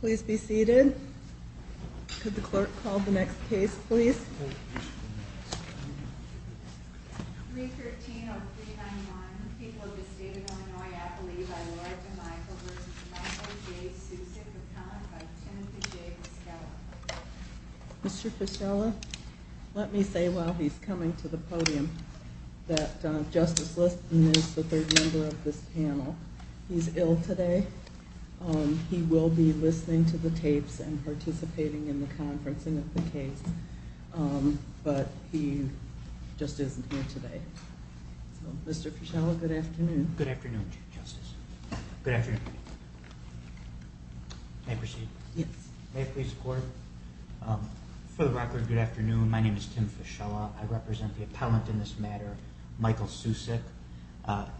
Please be seated. Could the clerk call the next case please? Mr. Fischella, let me say while he's coming to the podium that Justice Liston is the third member of this panel. He's ill today. He will be listening to the tapes and participating in the conferencing of the case. But he just isn't here today. Mr. Fischella, good afternoon. Good afternoon, Justice. Good afternoon. May I proceed? Yes. May I please report? For the record, good afternoon. My name is Tim Fischella. I represent the appellant in this matter, Michael Sucic.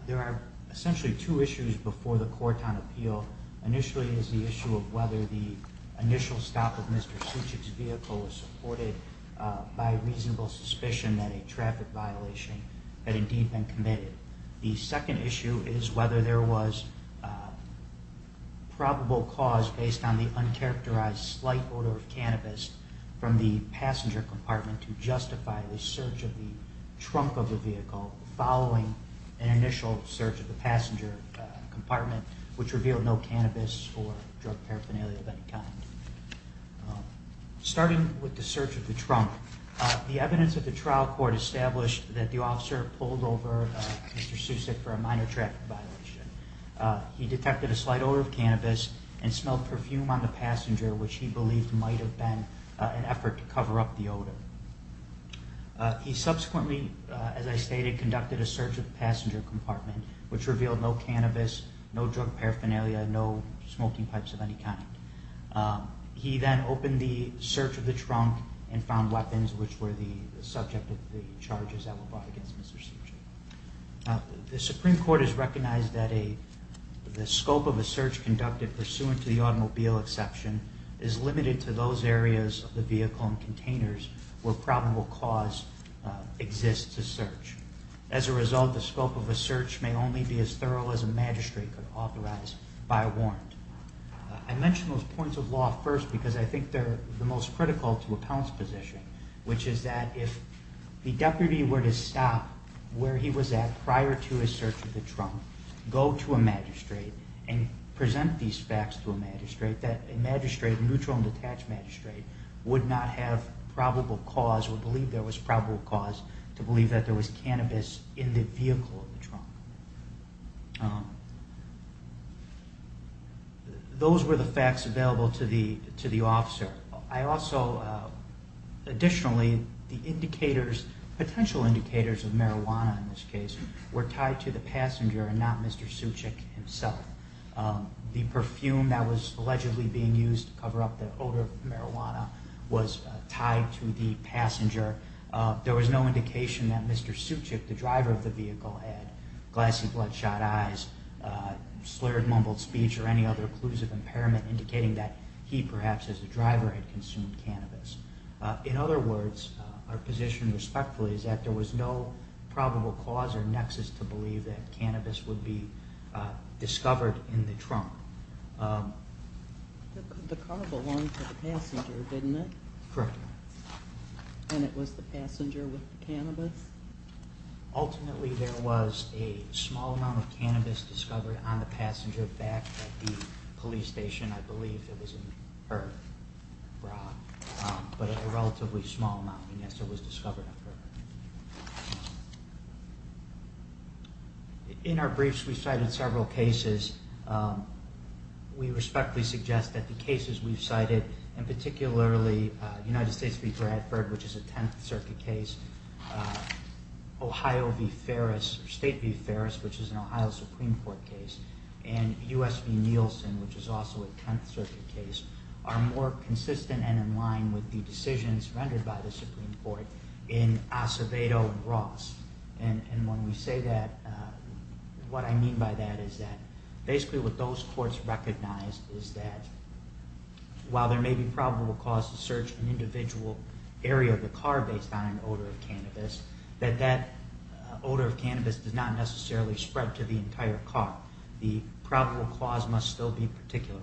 There are essentially two issues before the court on appeal. Initially is the issue of whether the initial stop of Mr. Sucic's vehicle was supported by reasonable suspicion that a traffic violation had indeed been committed. The second issue is whether there was probable cause based on the uncharacterized slight odor of cannabis from the passenger compartment to justify the search of the trunk of the vehicle following an initial search of the passenger compartment, which revealed no cannabis or drug paraphernalia of any kind. Starting with the search of the trunk, the evidence of the trial court established that the officer pulled over Mr. Sucic for a minor traffic violation. He detected a slight odor of cannabis and smelled perfume on the passenger, which he believed might have been an effort to cover up the odor. He subsequently, as I stated, conducted a search of the passenger compartment, which revealed no cannabis, no drug paraphernalia, no smoking pipes of any kind. He then opened the search of the trunk and found weapons, which were the subject of the charges that were brought against Mr. Sucic. The Supreme Court has recognized that the scope of a search conducted pursuant to the automobile exception is limited to those areas of the vehicle and containers where probable cause exists to search. As a result, the scope of a search may only be as thorough as a magistrate could authorize by warrant. I mention those points of law first because I think they're the most critical to a pounce position, which is that if the deputy were to stop where he was at prior to his search of the trunk, go to a magistrate, and present these facts to a magistrate, that a magistrate, a neutral and detached magistrate, would not have probable cause or believe there was probable cause to believe that there was cannabis in the vehicle of the trunk. Those were the facts available to the officer. Additionally, the potential indicators of marijuana in this case were tied to the passenger and not Mr. Sucic himself. The perfume that was allegedly being used to cover up the odor of marijuana was tied to the passenger. There was no indication that Mr. Sucic, the driver of the vehicle, had glassy bloodshot eyes, slurred mumbled speech, or any other clues of impairment indicating that he perhaps as a driver had consumed cannabis. In other words, our position respectfully is that there was no probable cause or nexus to believe that cannabis would be discovered in the trunk. The car belonged to the passenger, didn't it? Correct. And it was the passenger with the cannabis? Ultimately, there was a small amount of cannabis discovered on the passenger back at the police station. I believe it was in her bra, but a relatively small amount, unless it was discovered on her. In our briefs, we've cited several cases. We respectfully suggest that the cases we've cited, and particularly United States v. Bradford, which is a Tenth Circuit case, Ohio v. Ferris, or State v. Ferris, which is an Ohio Supreme Court case, and U.S. v. Nielsen, which is also a Tenth Circuit case, are more consistent and in line with the decisions rendered by the Supreme Court in Acevedo v. Ross. And when we say that, what I mean by that is that basically what those courts recognized is that while there may be probable cause to search an individual area of the car based on an odor of cannabis, that that odor of cannabis does not necessarily spread to the entire car. The probable cause must still be particularized.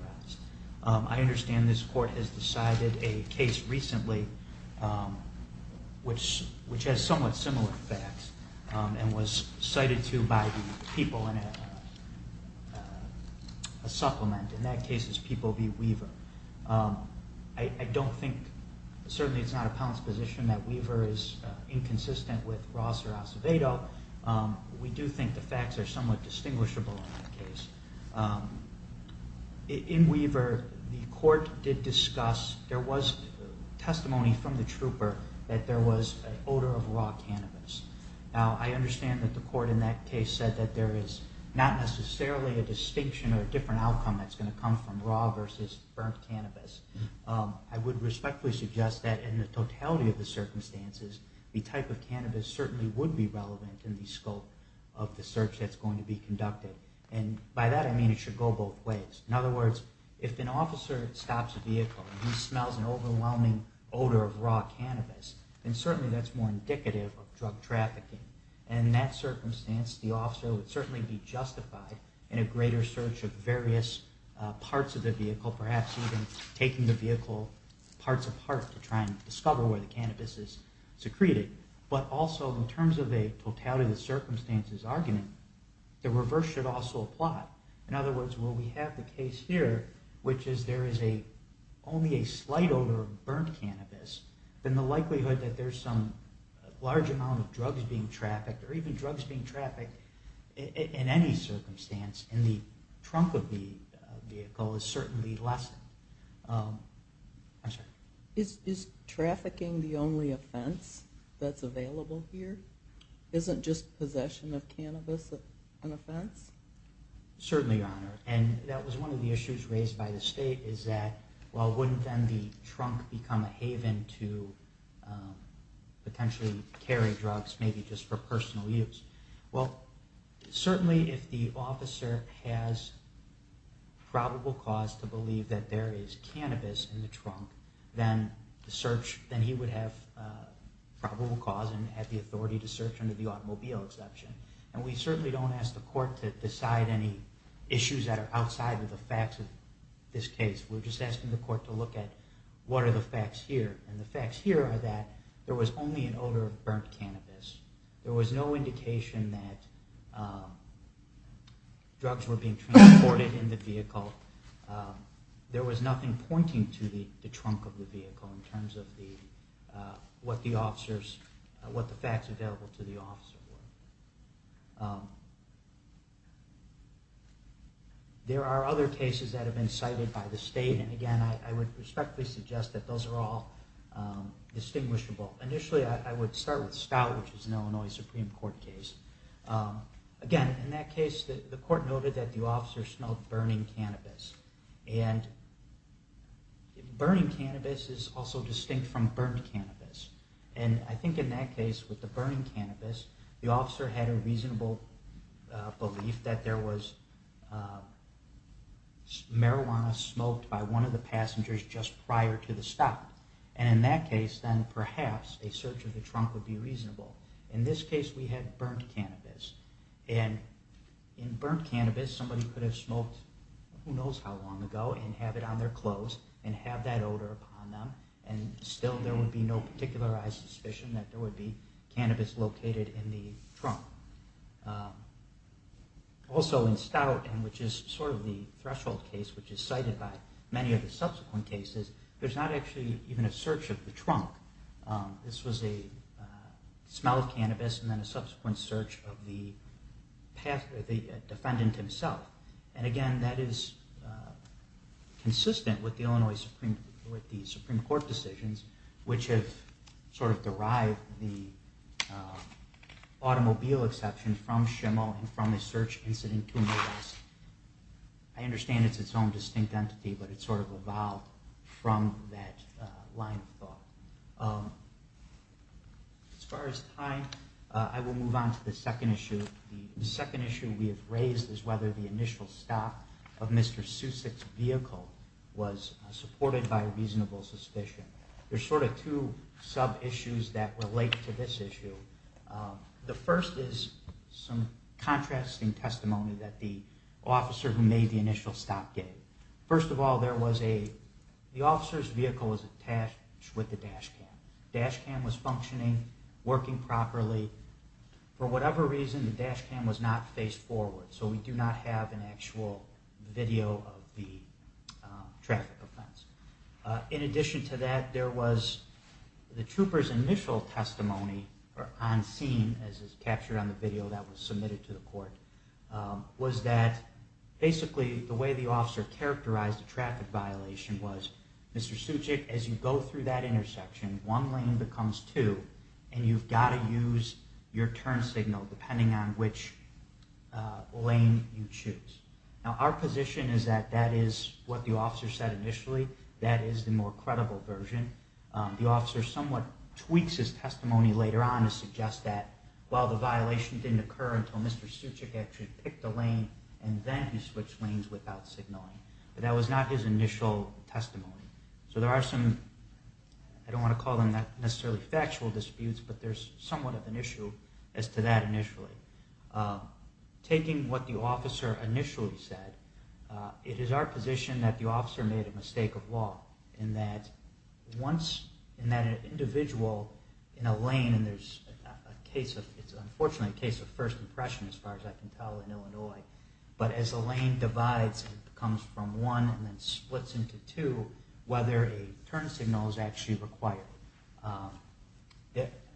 I understand this court has decided a case recently which has somewhat similar facts and was cited to by the people in a supplement. In that case, it's people v. Weaver. I don't think, certainly it's not a pounce position that Weaver is inconsistent with Ross or Acevedo. We do think the facts are somewhat distinguishable in that case. In Weaver, the court did discuss, there was testimony from the trooper that there was an odor of raw cannabis. Now, I understand that the court in that case said that there is not necessarily a distinction or a different outcome that's going to come from raw versus burnt cannabis. I would respectfully suggest that in the totality of the circumstances, the type of cannabis certainly would be relevant in the scope of the search that's going to be conducted. By that, I mean it should go both ways. In other words, if an officer stops a vehicle and he smells an overwhelming odor of raw cannabis, then certainly that's more indicative of drug trafficking. In that circumstance, the officer would certainly be justified in a greater search of various parts of the vehicle, perhaps even taking the vehicle parts apart to try and discover where the cannabis is secreted. But also, in terms of a totality of circumstances argument, the reverse should also apply. In other words, when we have the case here, which is there is only a slight odor of burnt cannabis, then the likelihood that there's some large amount of drugs being trafficked, or even drugs being trafficked in any circumstance in the trunk of the vehicle is certainly less. I'm sorry. Is trafficking the only offense that's available here? Isn't just possession of cannabis an offense? Certainly, Your Honor. And that was one of the issues raised by the state is that, well, wouldn't then the trunk become a haven to potentially carry drugs maybe just for personal use? Well, certainly if the officer has probable cause to believe that there is cannabis in the trunk, then he would have probable cause and have the authority to search under the automobile exception. And we certainly don't ask the court to decide any issues that are outside of the facts of this case. We're just asking the court to look at what are the facts here. And the facts here are that there was only an odor of burnt cannabis. There was no indication that drugs were being transported in the vehicle. There was nothing pointing to the trunk of the vehicle in terms of what the facts available to the officer were. There are other cases that have been cited by the state, and again, I would respectfully suggest that those are all distinguishable. Initially, I would start with Stout, which is an Illinois Supreme Court case. Again, in that case, the court noted that the officer smelled burning cannabis. And burning cannabis is also distinct from burnt cannabis. And I think in that case, with the burning cannabis, the officer had a reasonable belief that there was marijuana smoked by one of the passengers just prior to the stop. And in that case, then perhaps a search of the trunk would be reasonable. In this case, we had burnt cannabis. And in burnt cannabis, somebody could have smoked who knows how long ago and have it on their clothes and have that odor upon them. And still, there would be no particularized suspicion that there would be cannabis located in the trunk. Also in Stout, which is sort of the threshold case, which is cited by many of the subsequent cases, there's not actually even a search of the trunk. This was a smell of cannabis and then a subsequent search of the defendant himself. And again, that is consistent with the Illinois Supreme Court decisions, which have sort of derived the automobile exception from Schimmel and from the search incident to Midwest. I understand it's its own distinct entity, but it's sort of evolved from that line of thought. As far as time, I will move on to the second issue. The second issue we have raised is whether the initial stop of Mr. Susick's vehicle was supported by reasonable suspicion. There's sort of two sub-issues that relate to this issue. The first is some contrasting testimony that the officer who made the initial stop gave. First of all, the officer's vehicle was attached with the dash cam. The dash cam was functioning, working properly. For whatever reason, the dash cam was not faced forward, so we do not have an actual video of the traffic offense. In addition to that, there was the trooper's initial testimony on scene, as is captured on the video that was submitted to the court, was that basically the way the officer characterized the traffic violation was, Mr. Susick, as you go through that intersection, one lane becomes two, and you've got to use your turn signal depending on which lane you choose. Now, our position is that that is what the officer said initially. That is the more credible version. The officer somewhat tweaks his testimony later on to suggest that, well, the violation didn't occur until Mr. Susick actually picked a lane, and then he switched lanes without signaling. But that was not his initial testimony. So there are some, I don't want to call them necessarily factual disputes, but there's somewhat of an issue as to that initially. Taking what the officer initially said, it is our position that the officer made a mistake of law, in that once an individual in a lane, and it's unfortunately a case of first impression as far as I can tell in Illinois, but as a lane divides and comes from one and then splits into two, whether a turn signal is actually required.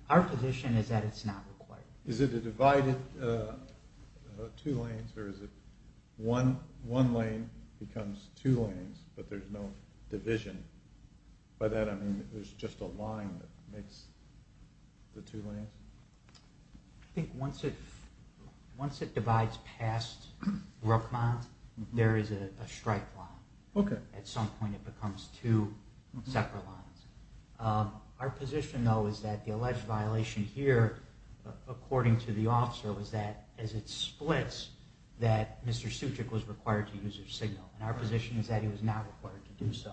Our position is that it's not required. Is it a divided two lanes, or is it one lane becomes two lanes, but there's no division? By that I mean there's just a line that makes the two lanes? I think once it divides past Brookmont, there is a strike line. At some point it becomes two separate lines. Our position, though, is that the alleged violation here, according to the officer, was that as it splits, that Mr. Susick was required to use his signal, and our position is that he was not required to do so.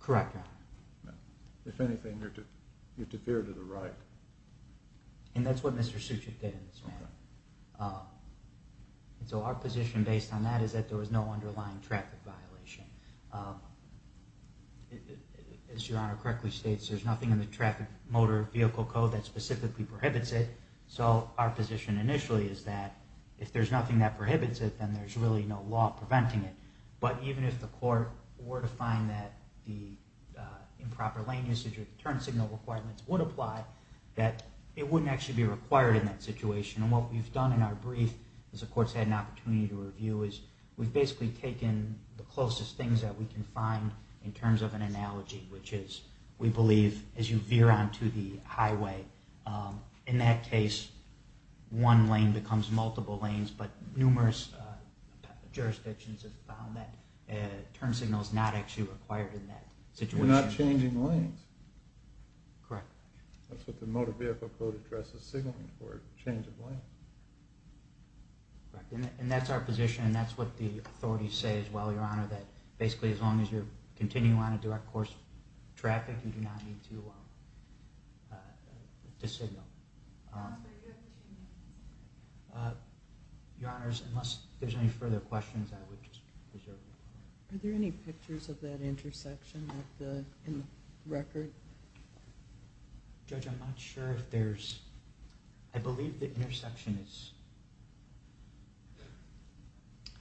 Correct, Your Honor. If anything, you're to fear to the right. And that's what Mr. Susick did in this matter. So our position based on that is that there was no underlying traffic violation. As Your Honor correctly states, there's nothing in the traffic motor vehicle code that specifically prohibits it, so our position initially is that if there's nothing that prohibits it, then there's really no law preventing it. But even if the court were to find that the improper lane usage or turn signal requirements would apply, that it wouldn't actually be required in that situation. And what we've done in our brief, as the court's had an opportunity to review, is we've basically taken the closest things that we can find in terms of an analogy, which is, we believe, as you veer onto the highway. In that case, one lane becomes multiple lanes, but numerous jurisdictions have found that turn signal is not actually required in that situation. You're not changing lanes. Correct. That's what the motor vehicle code addresses signaling for, change of lanes. And that's our position, and that's what the authorities say as well, Your Honor, that basically as long as you're continuing on a direct course of traffic, you do not need to signal. Your Honors, unless there's any further questions, I would reserve the floor. Are there any pictures of that intersection in the record? Judge, I'm not sure if there's... I believe the intersection is...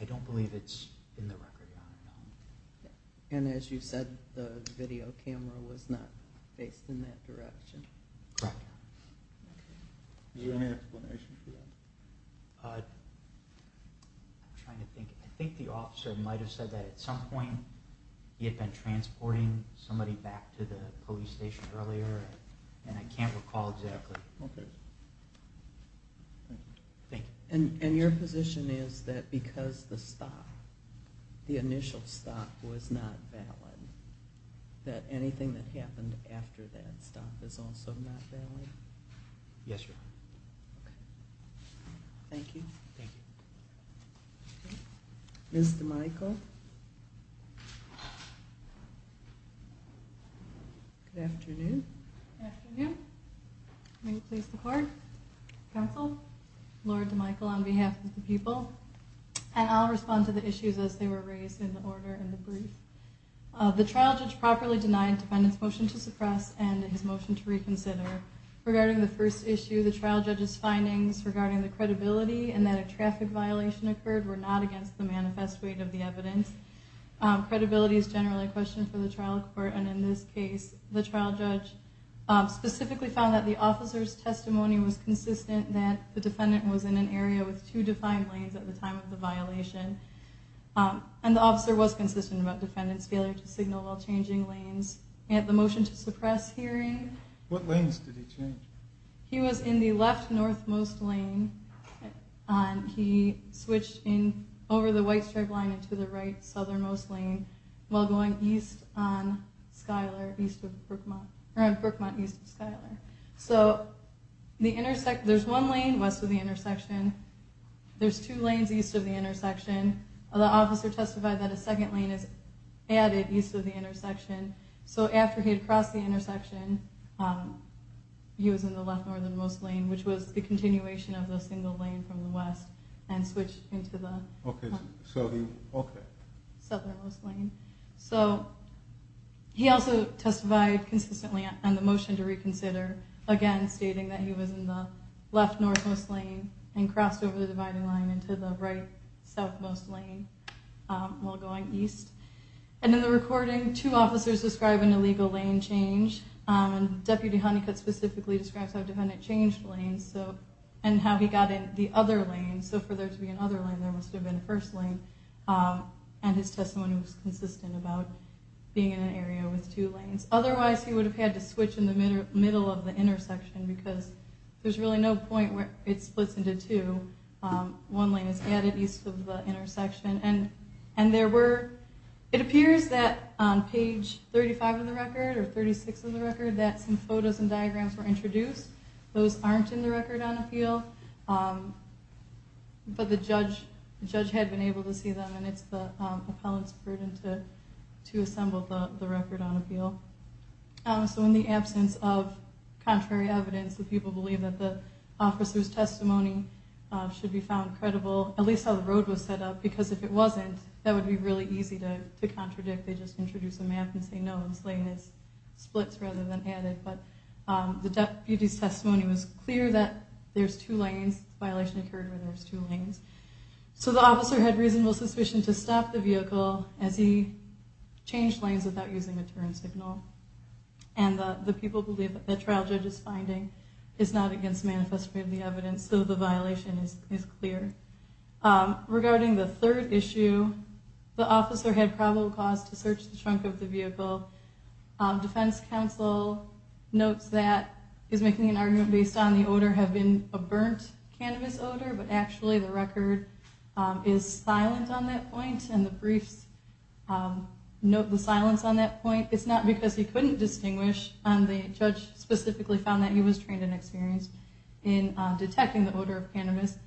I don't believe it's in the record, Your Honor. And as you said, the video camera was not faced in that direction. Correct. Is there any explanation for that? I think the officer might have said that at some point he had been transporting somebody back to the police station earlier, Okay. Thank you. And your position is that because the stop, the initial stop, was not valid, that anything that happened after that stop is also not valid? Yes, Your Honor. Okay. Thank you. Thank you. Ms. DeMichel. Good afternoon. Good afternoon. May you please report? Counsel, Laura DeMichel on behalf of the people. And I'll respond to the issues as they were raised in the order and the brief. The trial judge properly denied defendant's motion to suppress and his motion to reconsider. Regarding the first issue, the trial judge's findings regarding the credibility and that a traffic violation occurred were not against the manifest weight of the evidence. Credibility is generally a question for the trial court, and in this case, the trial judge specifically found that the officer's testimony was consistent that the defendant was in an area with two defined lanes at the time of the violation. And the officer was consistent about defendant's failure to signal while changing lanes. And the motion to suppress hearing. What lanes did he change? He was in the left-northmost lane. He switched in over the white stripe line into the right-southernmost lane while going east on Skyler, east of Brookmont. Around Brookmont, east of Skyler. So, there's one lane west of the intersection. There's two lanes east of the intersection. The officer testified that a second lane is added east of the intersection. So, after he had crossed the intersection, he was in the left-northernmost lane, which was the continuation of the single lane from the west and switched into the southernmost lane. So, he also testified consistently on the motion to reconsider, again stating that he was in the left-northmost lane and crossed over the dividing line into the right-southmost lane while going east. And in the recording, two officers describe an illegal lane change. And Deputy Honeycutt specifically describes how defendant changed lanes and how he got in the other lane. So, for there to be another lane, there must have been a first lane. And his testimony was consistent about being in an area with two lanes. Otherwise, he would have had to switch in the middle of the intersection because there's really no point where it splits into two. One lane is added east of the intersection. It appears that on page 35 of the record, or 36 of the record, that some photos and diagrams were introduced. Those aren't in the record on appeal. But the judge had been able to see them, and it's the appellant's burden to assemble the record on appeal. So, in the absence of contrary evidence, the people believe that the officer's testimony should be found credible, at least how the road was set up. Because if it wasn't, that would be really easy to contradict. They just introduce a map and say, no, this lane splits rather than added. But the deputy's testimony was clear that there's two lanes. The violation occurred where there's two lanes. So the officer had reasonable suspicion to stop the vehicle as he changed lanes without using a turn signal. And the people believe that the trial judge's finding is not against the manifesto of the evidence, so the violation is clear. Regarding the third issue, the officer had probable cause to search the trunk of the vehicle. Defense counsel notes that he's making an argument based on the odor have been a burnt cannabis odor, but actually the record is silent on that point. And the briefs note the silence on that point. It's not because he couldn't distinguish. The judge specifically found that he was trained and experienced in detecting the odor of cannabis.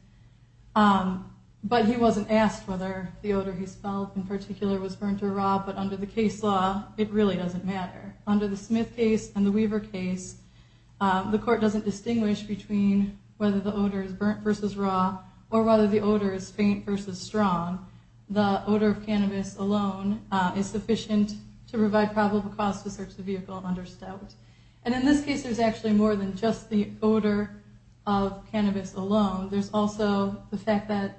But he wasn't asked whether the odor he spelled in particular was burnt or raw. But under the case law, it really doesn't matter. Under the Smith case and the Weaver case, the court doesn't distinguish between whether the odor is burnt versus raw or whether the odor is faint versus strong. The odor of cannabis alone is sufficient to provide probable cause to search the vehicle and understand. And in this case, there's actually more than just the odor of cannabis alone. There's also the fact that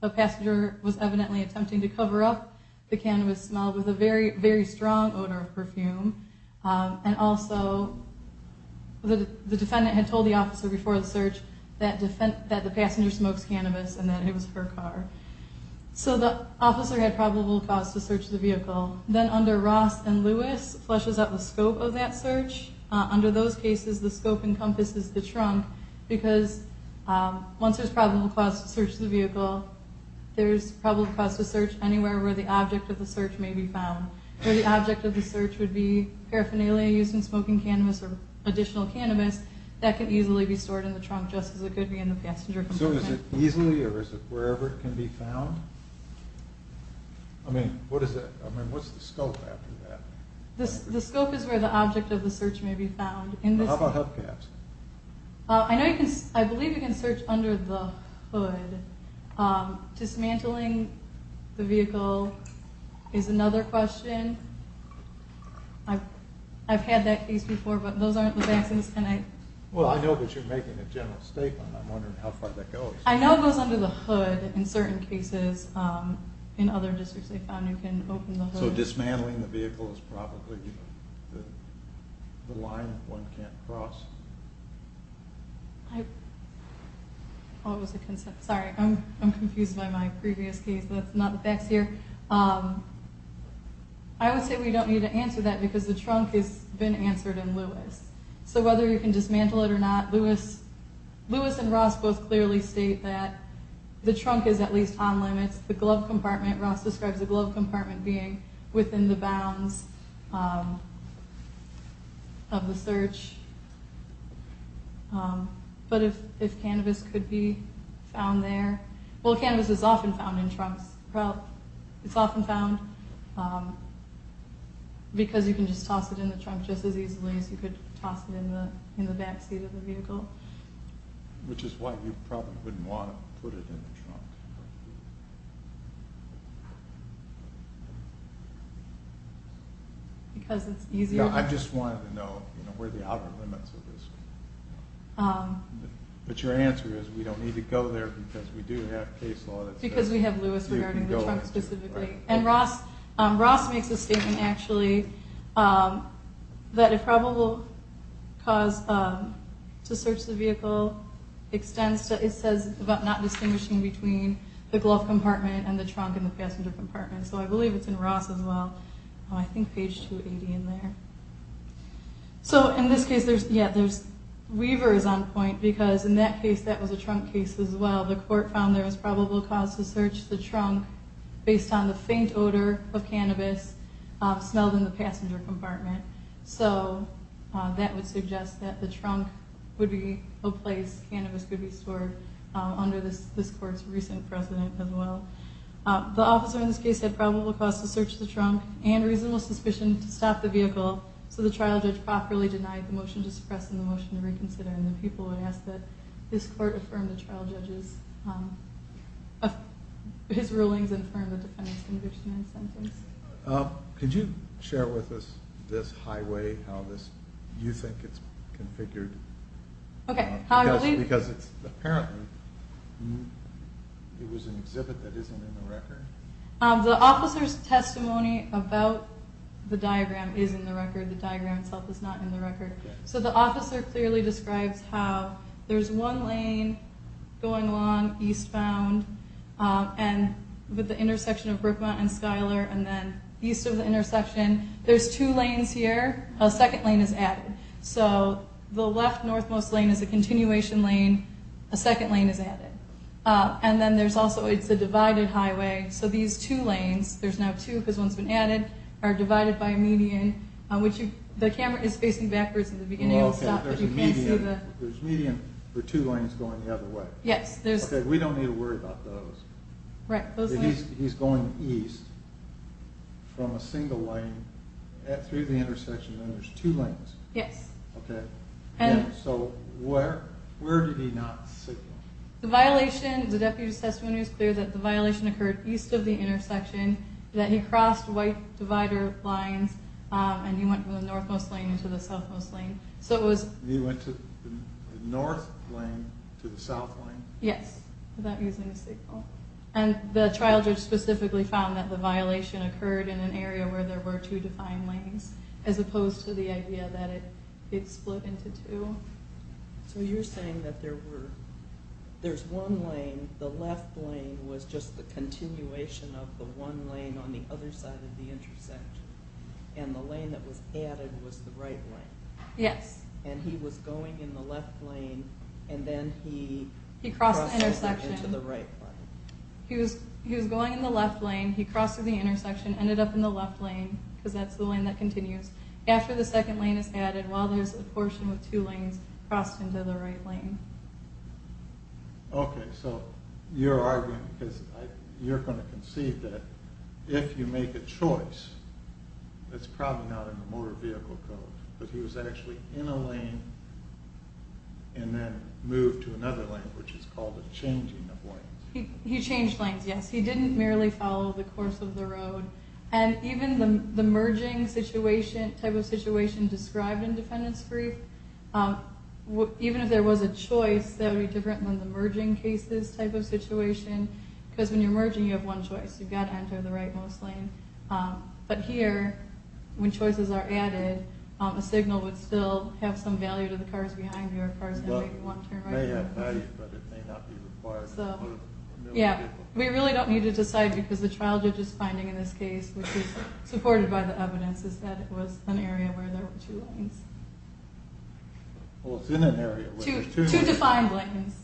the passenger was evidently attempting to cover up the cannabis smell with a very, very strong odor of perfume. And also, the defendant had told the officer before the search that the passenger smokes cannabis and that it was her car. So the officer had probable cause to search the vehicle. Then under Ross and Lewis, it flushes out the scope of that search. Under those cases, the scope encompasses the trunk because once there's probable cause to search the vehicle, there's probable cause to search anywhere where the object of the search may be found. Where the object of the search would be paraphernalia used in smoking cannabis or additional cannabis, that could easily be stored in the trunk just as it could be in the passenger compartment. So is it easily or is it wherever it can be found? I mean, what's the scope after that? The scope is where the object of the search may be found. How about hubcaps? I believe you can search under the hood. Dismantling the vehicle is another question. I've had that case before, but those aren't the vaccines. Well, I know that you're making a general statement. I'm wondering how far that goes. I know it goes under the hood in certain cases. In other districts, they found you can open the hood. So dismantling the vehicle is probably the line one can't cross. Sorry, I'm confused by my previous case. That's not the facts here. I would say we don't need to answer that because the trunk has been answered in Lewis. So whether you can dismantle it or not, Lewis and Ross both clearly state that the trunk is at least on limits. The glove compartment, Ross describes the glove compartment being within the bounds of the search. But if cannabis could be found there? Well, cannabis is often found in trunks. It's often found because you can just toss it in the trunk just as easily as you could toss it in the backseat of the vehicle. Which is why you probably wouldn't want to put it in the trunk. Because it's easier? Yeah, I just wanted to know where the outer limits of this were. But your answer is we don't need to go there because we do have case law that says you can go into it. And Ross makes a statement actually that a probable cause to search the vehicle extends to, it says about not distinguishing between the glove compartment and the trunk and the passenger compartment. So I believe it's in Ross as well. I think page 280 in there. So in this case there's weavers on point because in that case that was a trunk case as well. The court found there was probable cause to search the trunk based on the faint odor of cannabis smelled in the passenger compartment. So that would suggest that the trunk would be a place cannabis could be stored under this court's recent precedent as well. The officer in this case had probable cause to search the trunk and reasonable suspicion to stop the vehicle. So the trial judge properly denied the motion to suppress and the motion to reconsider. And the people would ask that this court affirm the trial judge's, his rulings affirm the defendant's conviction and sentence. Could you share with us this highway, how this, do you think it's configured? Okay. Because apparently it was an exhibit that isn't in the record. The officer's testimony about the diagram is in the record. The diagram itself is not in the record. So the officer clearly describes how there's one lane going along eastbound and with the intersection of Brookmont and Schuyler and then east of the intersection. There's two lanes here. A second lane is added. So the left northmost lane is a continuation lane. A second lane is added. And then there's also, it's a divided highway. So these two lanes, there's now two because one's been added, are divided by a median. The camera is facing backwards at the beginning of the stop. There's a median for two lanes going the other way. Yes. We don't need to worry about those. Right. He's going east from a single lane through the intersection and there's two lanes. Yes. Okay. So where did he not signal? The violation, the deputy's testimony is clear that the violation occurred east of the intersection. That he crossed white divider lines and he went from the northmost lane into the southmost lane. He went from the north lane to the south lane? Yes, without using a signal. And the trial judge specifically found that the violation occurred in an area where there were two defined lanes as opposed to the idea that it split into two. So you're saying that there's one lane, the left lane was just the continuation of the one lane on the other side of the intersection. And the lane that was added was the right lane. Yes. And he was going in the left lane and then he crossed into the right lane. He was going in the left lane, he crossed through the intersection, ended up in the left lane because that's the lane that continues. After the second lane is added, while there's a portion with two lanes, he crossed into the right lane. Okay, so you're arguing, because you're going to concede that if you make a choice, it's probably not in the motor vehicle code. But he was actually in a lane and then moved to another lane, which is called a changing of lanes. He changed lanes, yes. He didn't merely follow the course of the road. And even the merging type of situation described in defendant's brief, even if there was a choice, that would be different than the merging cases type of situation. Because when you're merging, you have one choice. You've got to enter the right-most lane. But here, when choices are added, a signal would still have some value to the cars behind you or cars that make one turn right. It may have value, but it may not be required. We really don't need to decide because the trial judge's finding in this case, which is supported by the evidence, is that it was an area where there were two lanes. Well, it's in an area. Two defined lanes.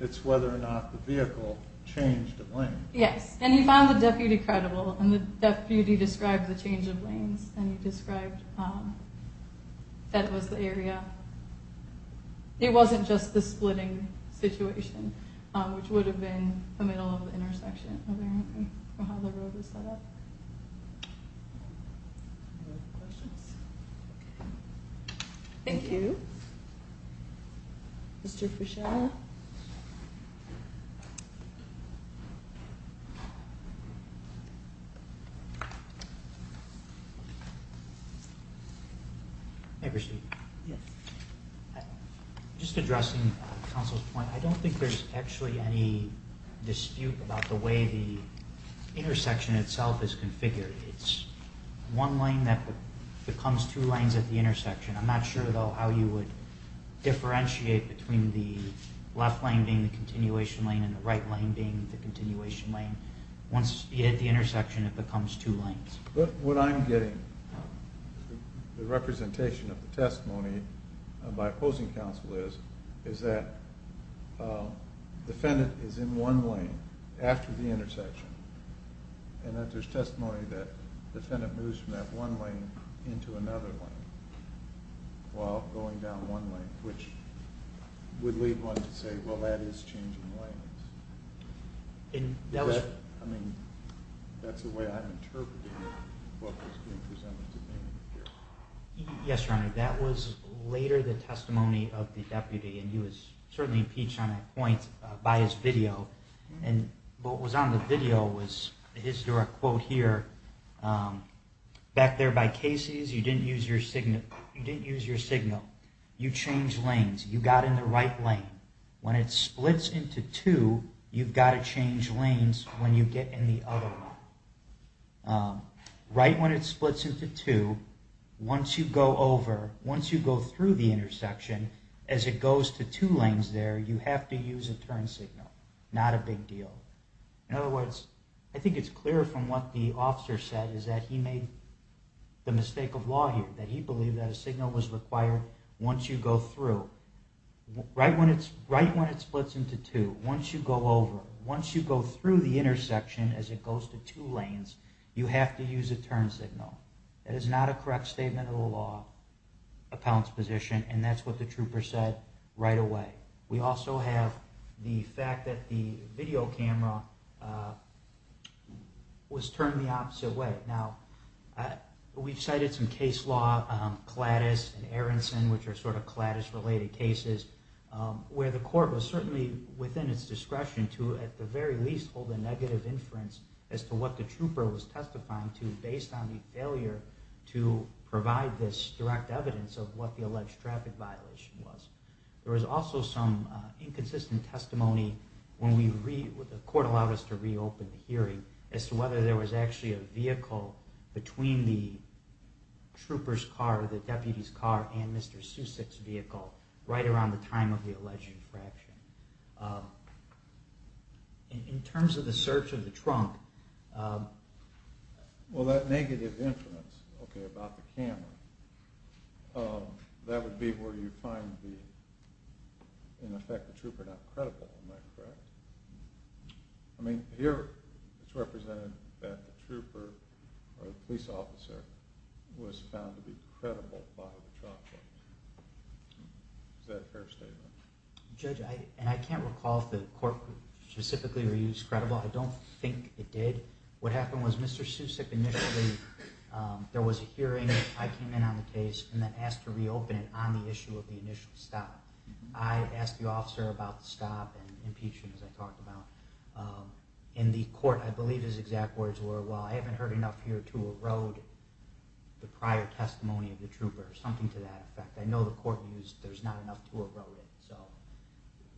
It's whether or not the vehicle changed a lane. Yes, and he found the deputy credible, and the deputy described the change of lanes, and he described that it was the area. It wasn't just the splitting situation, which would have been the middle of the intersection, apparently, or how the road was set up. Thank you. Mr. Fischel. Mr. Fischel. Hey, Christine. Yes. Just addressing counsel's point, I don't think there's actually any dispute about the way the intersection itself is configured. It's one lane that becomes two lanes at the intersection. I'm not sure, though, how you would differentiate between the left lane being the continuation lane and the right lane being the continuation lane. Once you hit the intersection, it becomes two lanes. What I'm getting, the representation of the testimony by opposing counsel is, is that the defendant is in one lane after the intersection, and that there's testimony that the defendant moves from that one lane into another lane while going down one lane, which would lead one to say, well, that is changing lanes. And that was... I mean, that's the way I'm interpreting what was being presented to me here. Yes, Your Honor. That was later the testimony of the deputy, and he was certainly impeached on that point by his video. And what was on the video was a historic quote here. Back there by Casey's, you didn't use your signal. You changed lanes. You got in the right lane. When it splits into two, you've got to change lanes when you get in the other lane. Right when it splits into two, once you go over, once you go through the intersection, as it goes to two lanes there, you have to use a turn signal. Not a big deal. In other words, I think it's clear from what the officer said is that he made the mistake of law here, that he believed that a signal was required once you go through. Right when it splits into two, once you go over, once you go through the intersection, as it goes to two lanes, you have to use a turn signal. That is not a correct statement of the law, a pounce position, and that's what the trooper said right away. We also have the fact that the video camera was turned the opposite way. We've cited some case law, CLADIS and Aronson, which are sort of CLADIS-related cases, where the court was certainly within its discretion to at the very least hold a negative inference as to what the trooper was testifying to based on the failure to provide this direct evidence of what the alleged traffic violation was. There was also some inconsistent testimony when the court allowed us to reopen the hearing as to whether there was actually a vehicle between the trooper's car, the deputy's car, and Mr. Susick's vehicle right around the time of the alleged infraction. In terms of the search of the trunk... Well, that negative inference, okay, about the camera, that would be where you find the, in effect, the trooper not credible, am I correct? I mean, here it's represented that the trooper, or the police officer, was found to be credible by the truck driver. Is that a fair statement? Judge, and I can't recall if the court specifically reused credible. I don't think it did. What happened was Mr. Susick initially, there was a hearing. I came in on the case and then asked to reopen it on the issue of the initial stop. I asked the officer about the stop and impeachment, as I talked about. In the court, I believe his exact words were, well, I haven't heard enough here to erode the prior testimony of the trooper, or something to that effect. I know the court used there's not enough to erode it. So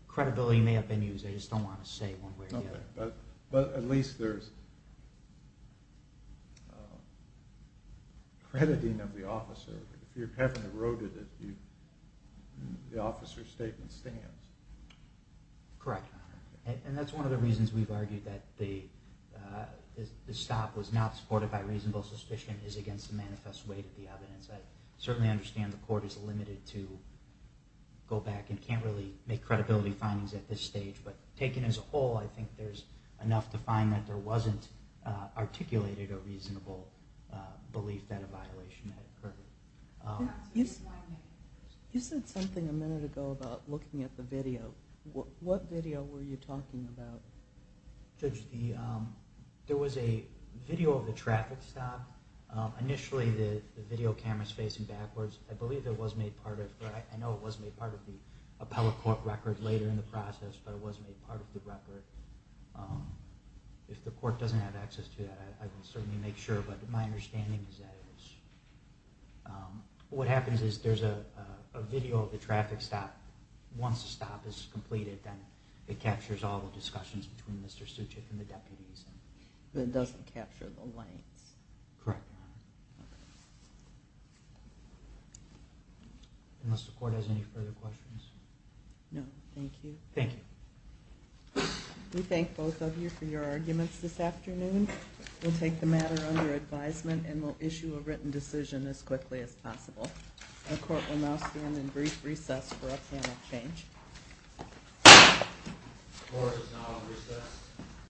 credibility may have been used, I just don't want to say one way or the other. But at least there's... crediting of the officer. If you haven't eroded it, the officer's statement stands. Correct, Your Honor. And that's one of the reasons we've argued that the stop was not supported by reasonable suspicion, is against the manifest weight of the evidence. I certainly understand the court is limited to go back and can't really make credibility findings at this stage. But taken as a whole, I think there's enough to find that there wasn't articulated a reasonable belief that a violation had occurred. You said something a minute ago about looking at the video. What video were you talking about? There was a video of the traffic stop. Initially, the video camera's facing backwards. I believe it was made part of... I know it was made part of the appellate court record later in the process, but it was made part of the record. If the court doesn't have access to that, I will certainly make sure. But my understanding is that it was... What happens is there's a video of the traffic stop. Once the stop is completed, then it captures all the discussions between Mr. Suchik and the deputies. But it doesn't capture the lanes? Correct, Your Honor. Unless the court has any further questions? No, thank you. Thank you. We thank both of you for your arguments this afternoon. We'll take the matter under advisement and we'll issue a written decision as quickly as possible. The court will now stand in brief recess for a panel change. The court is now in recess.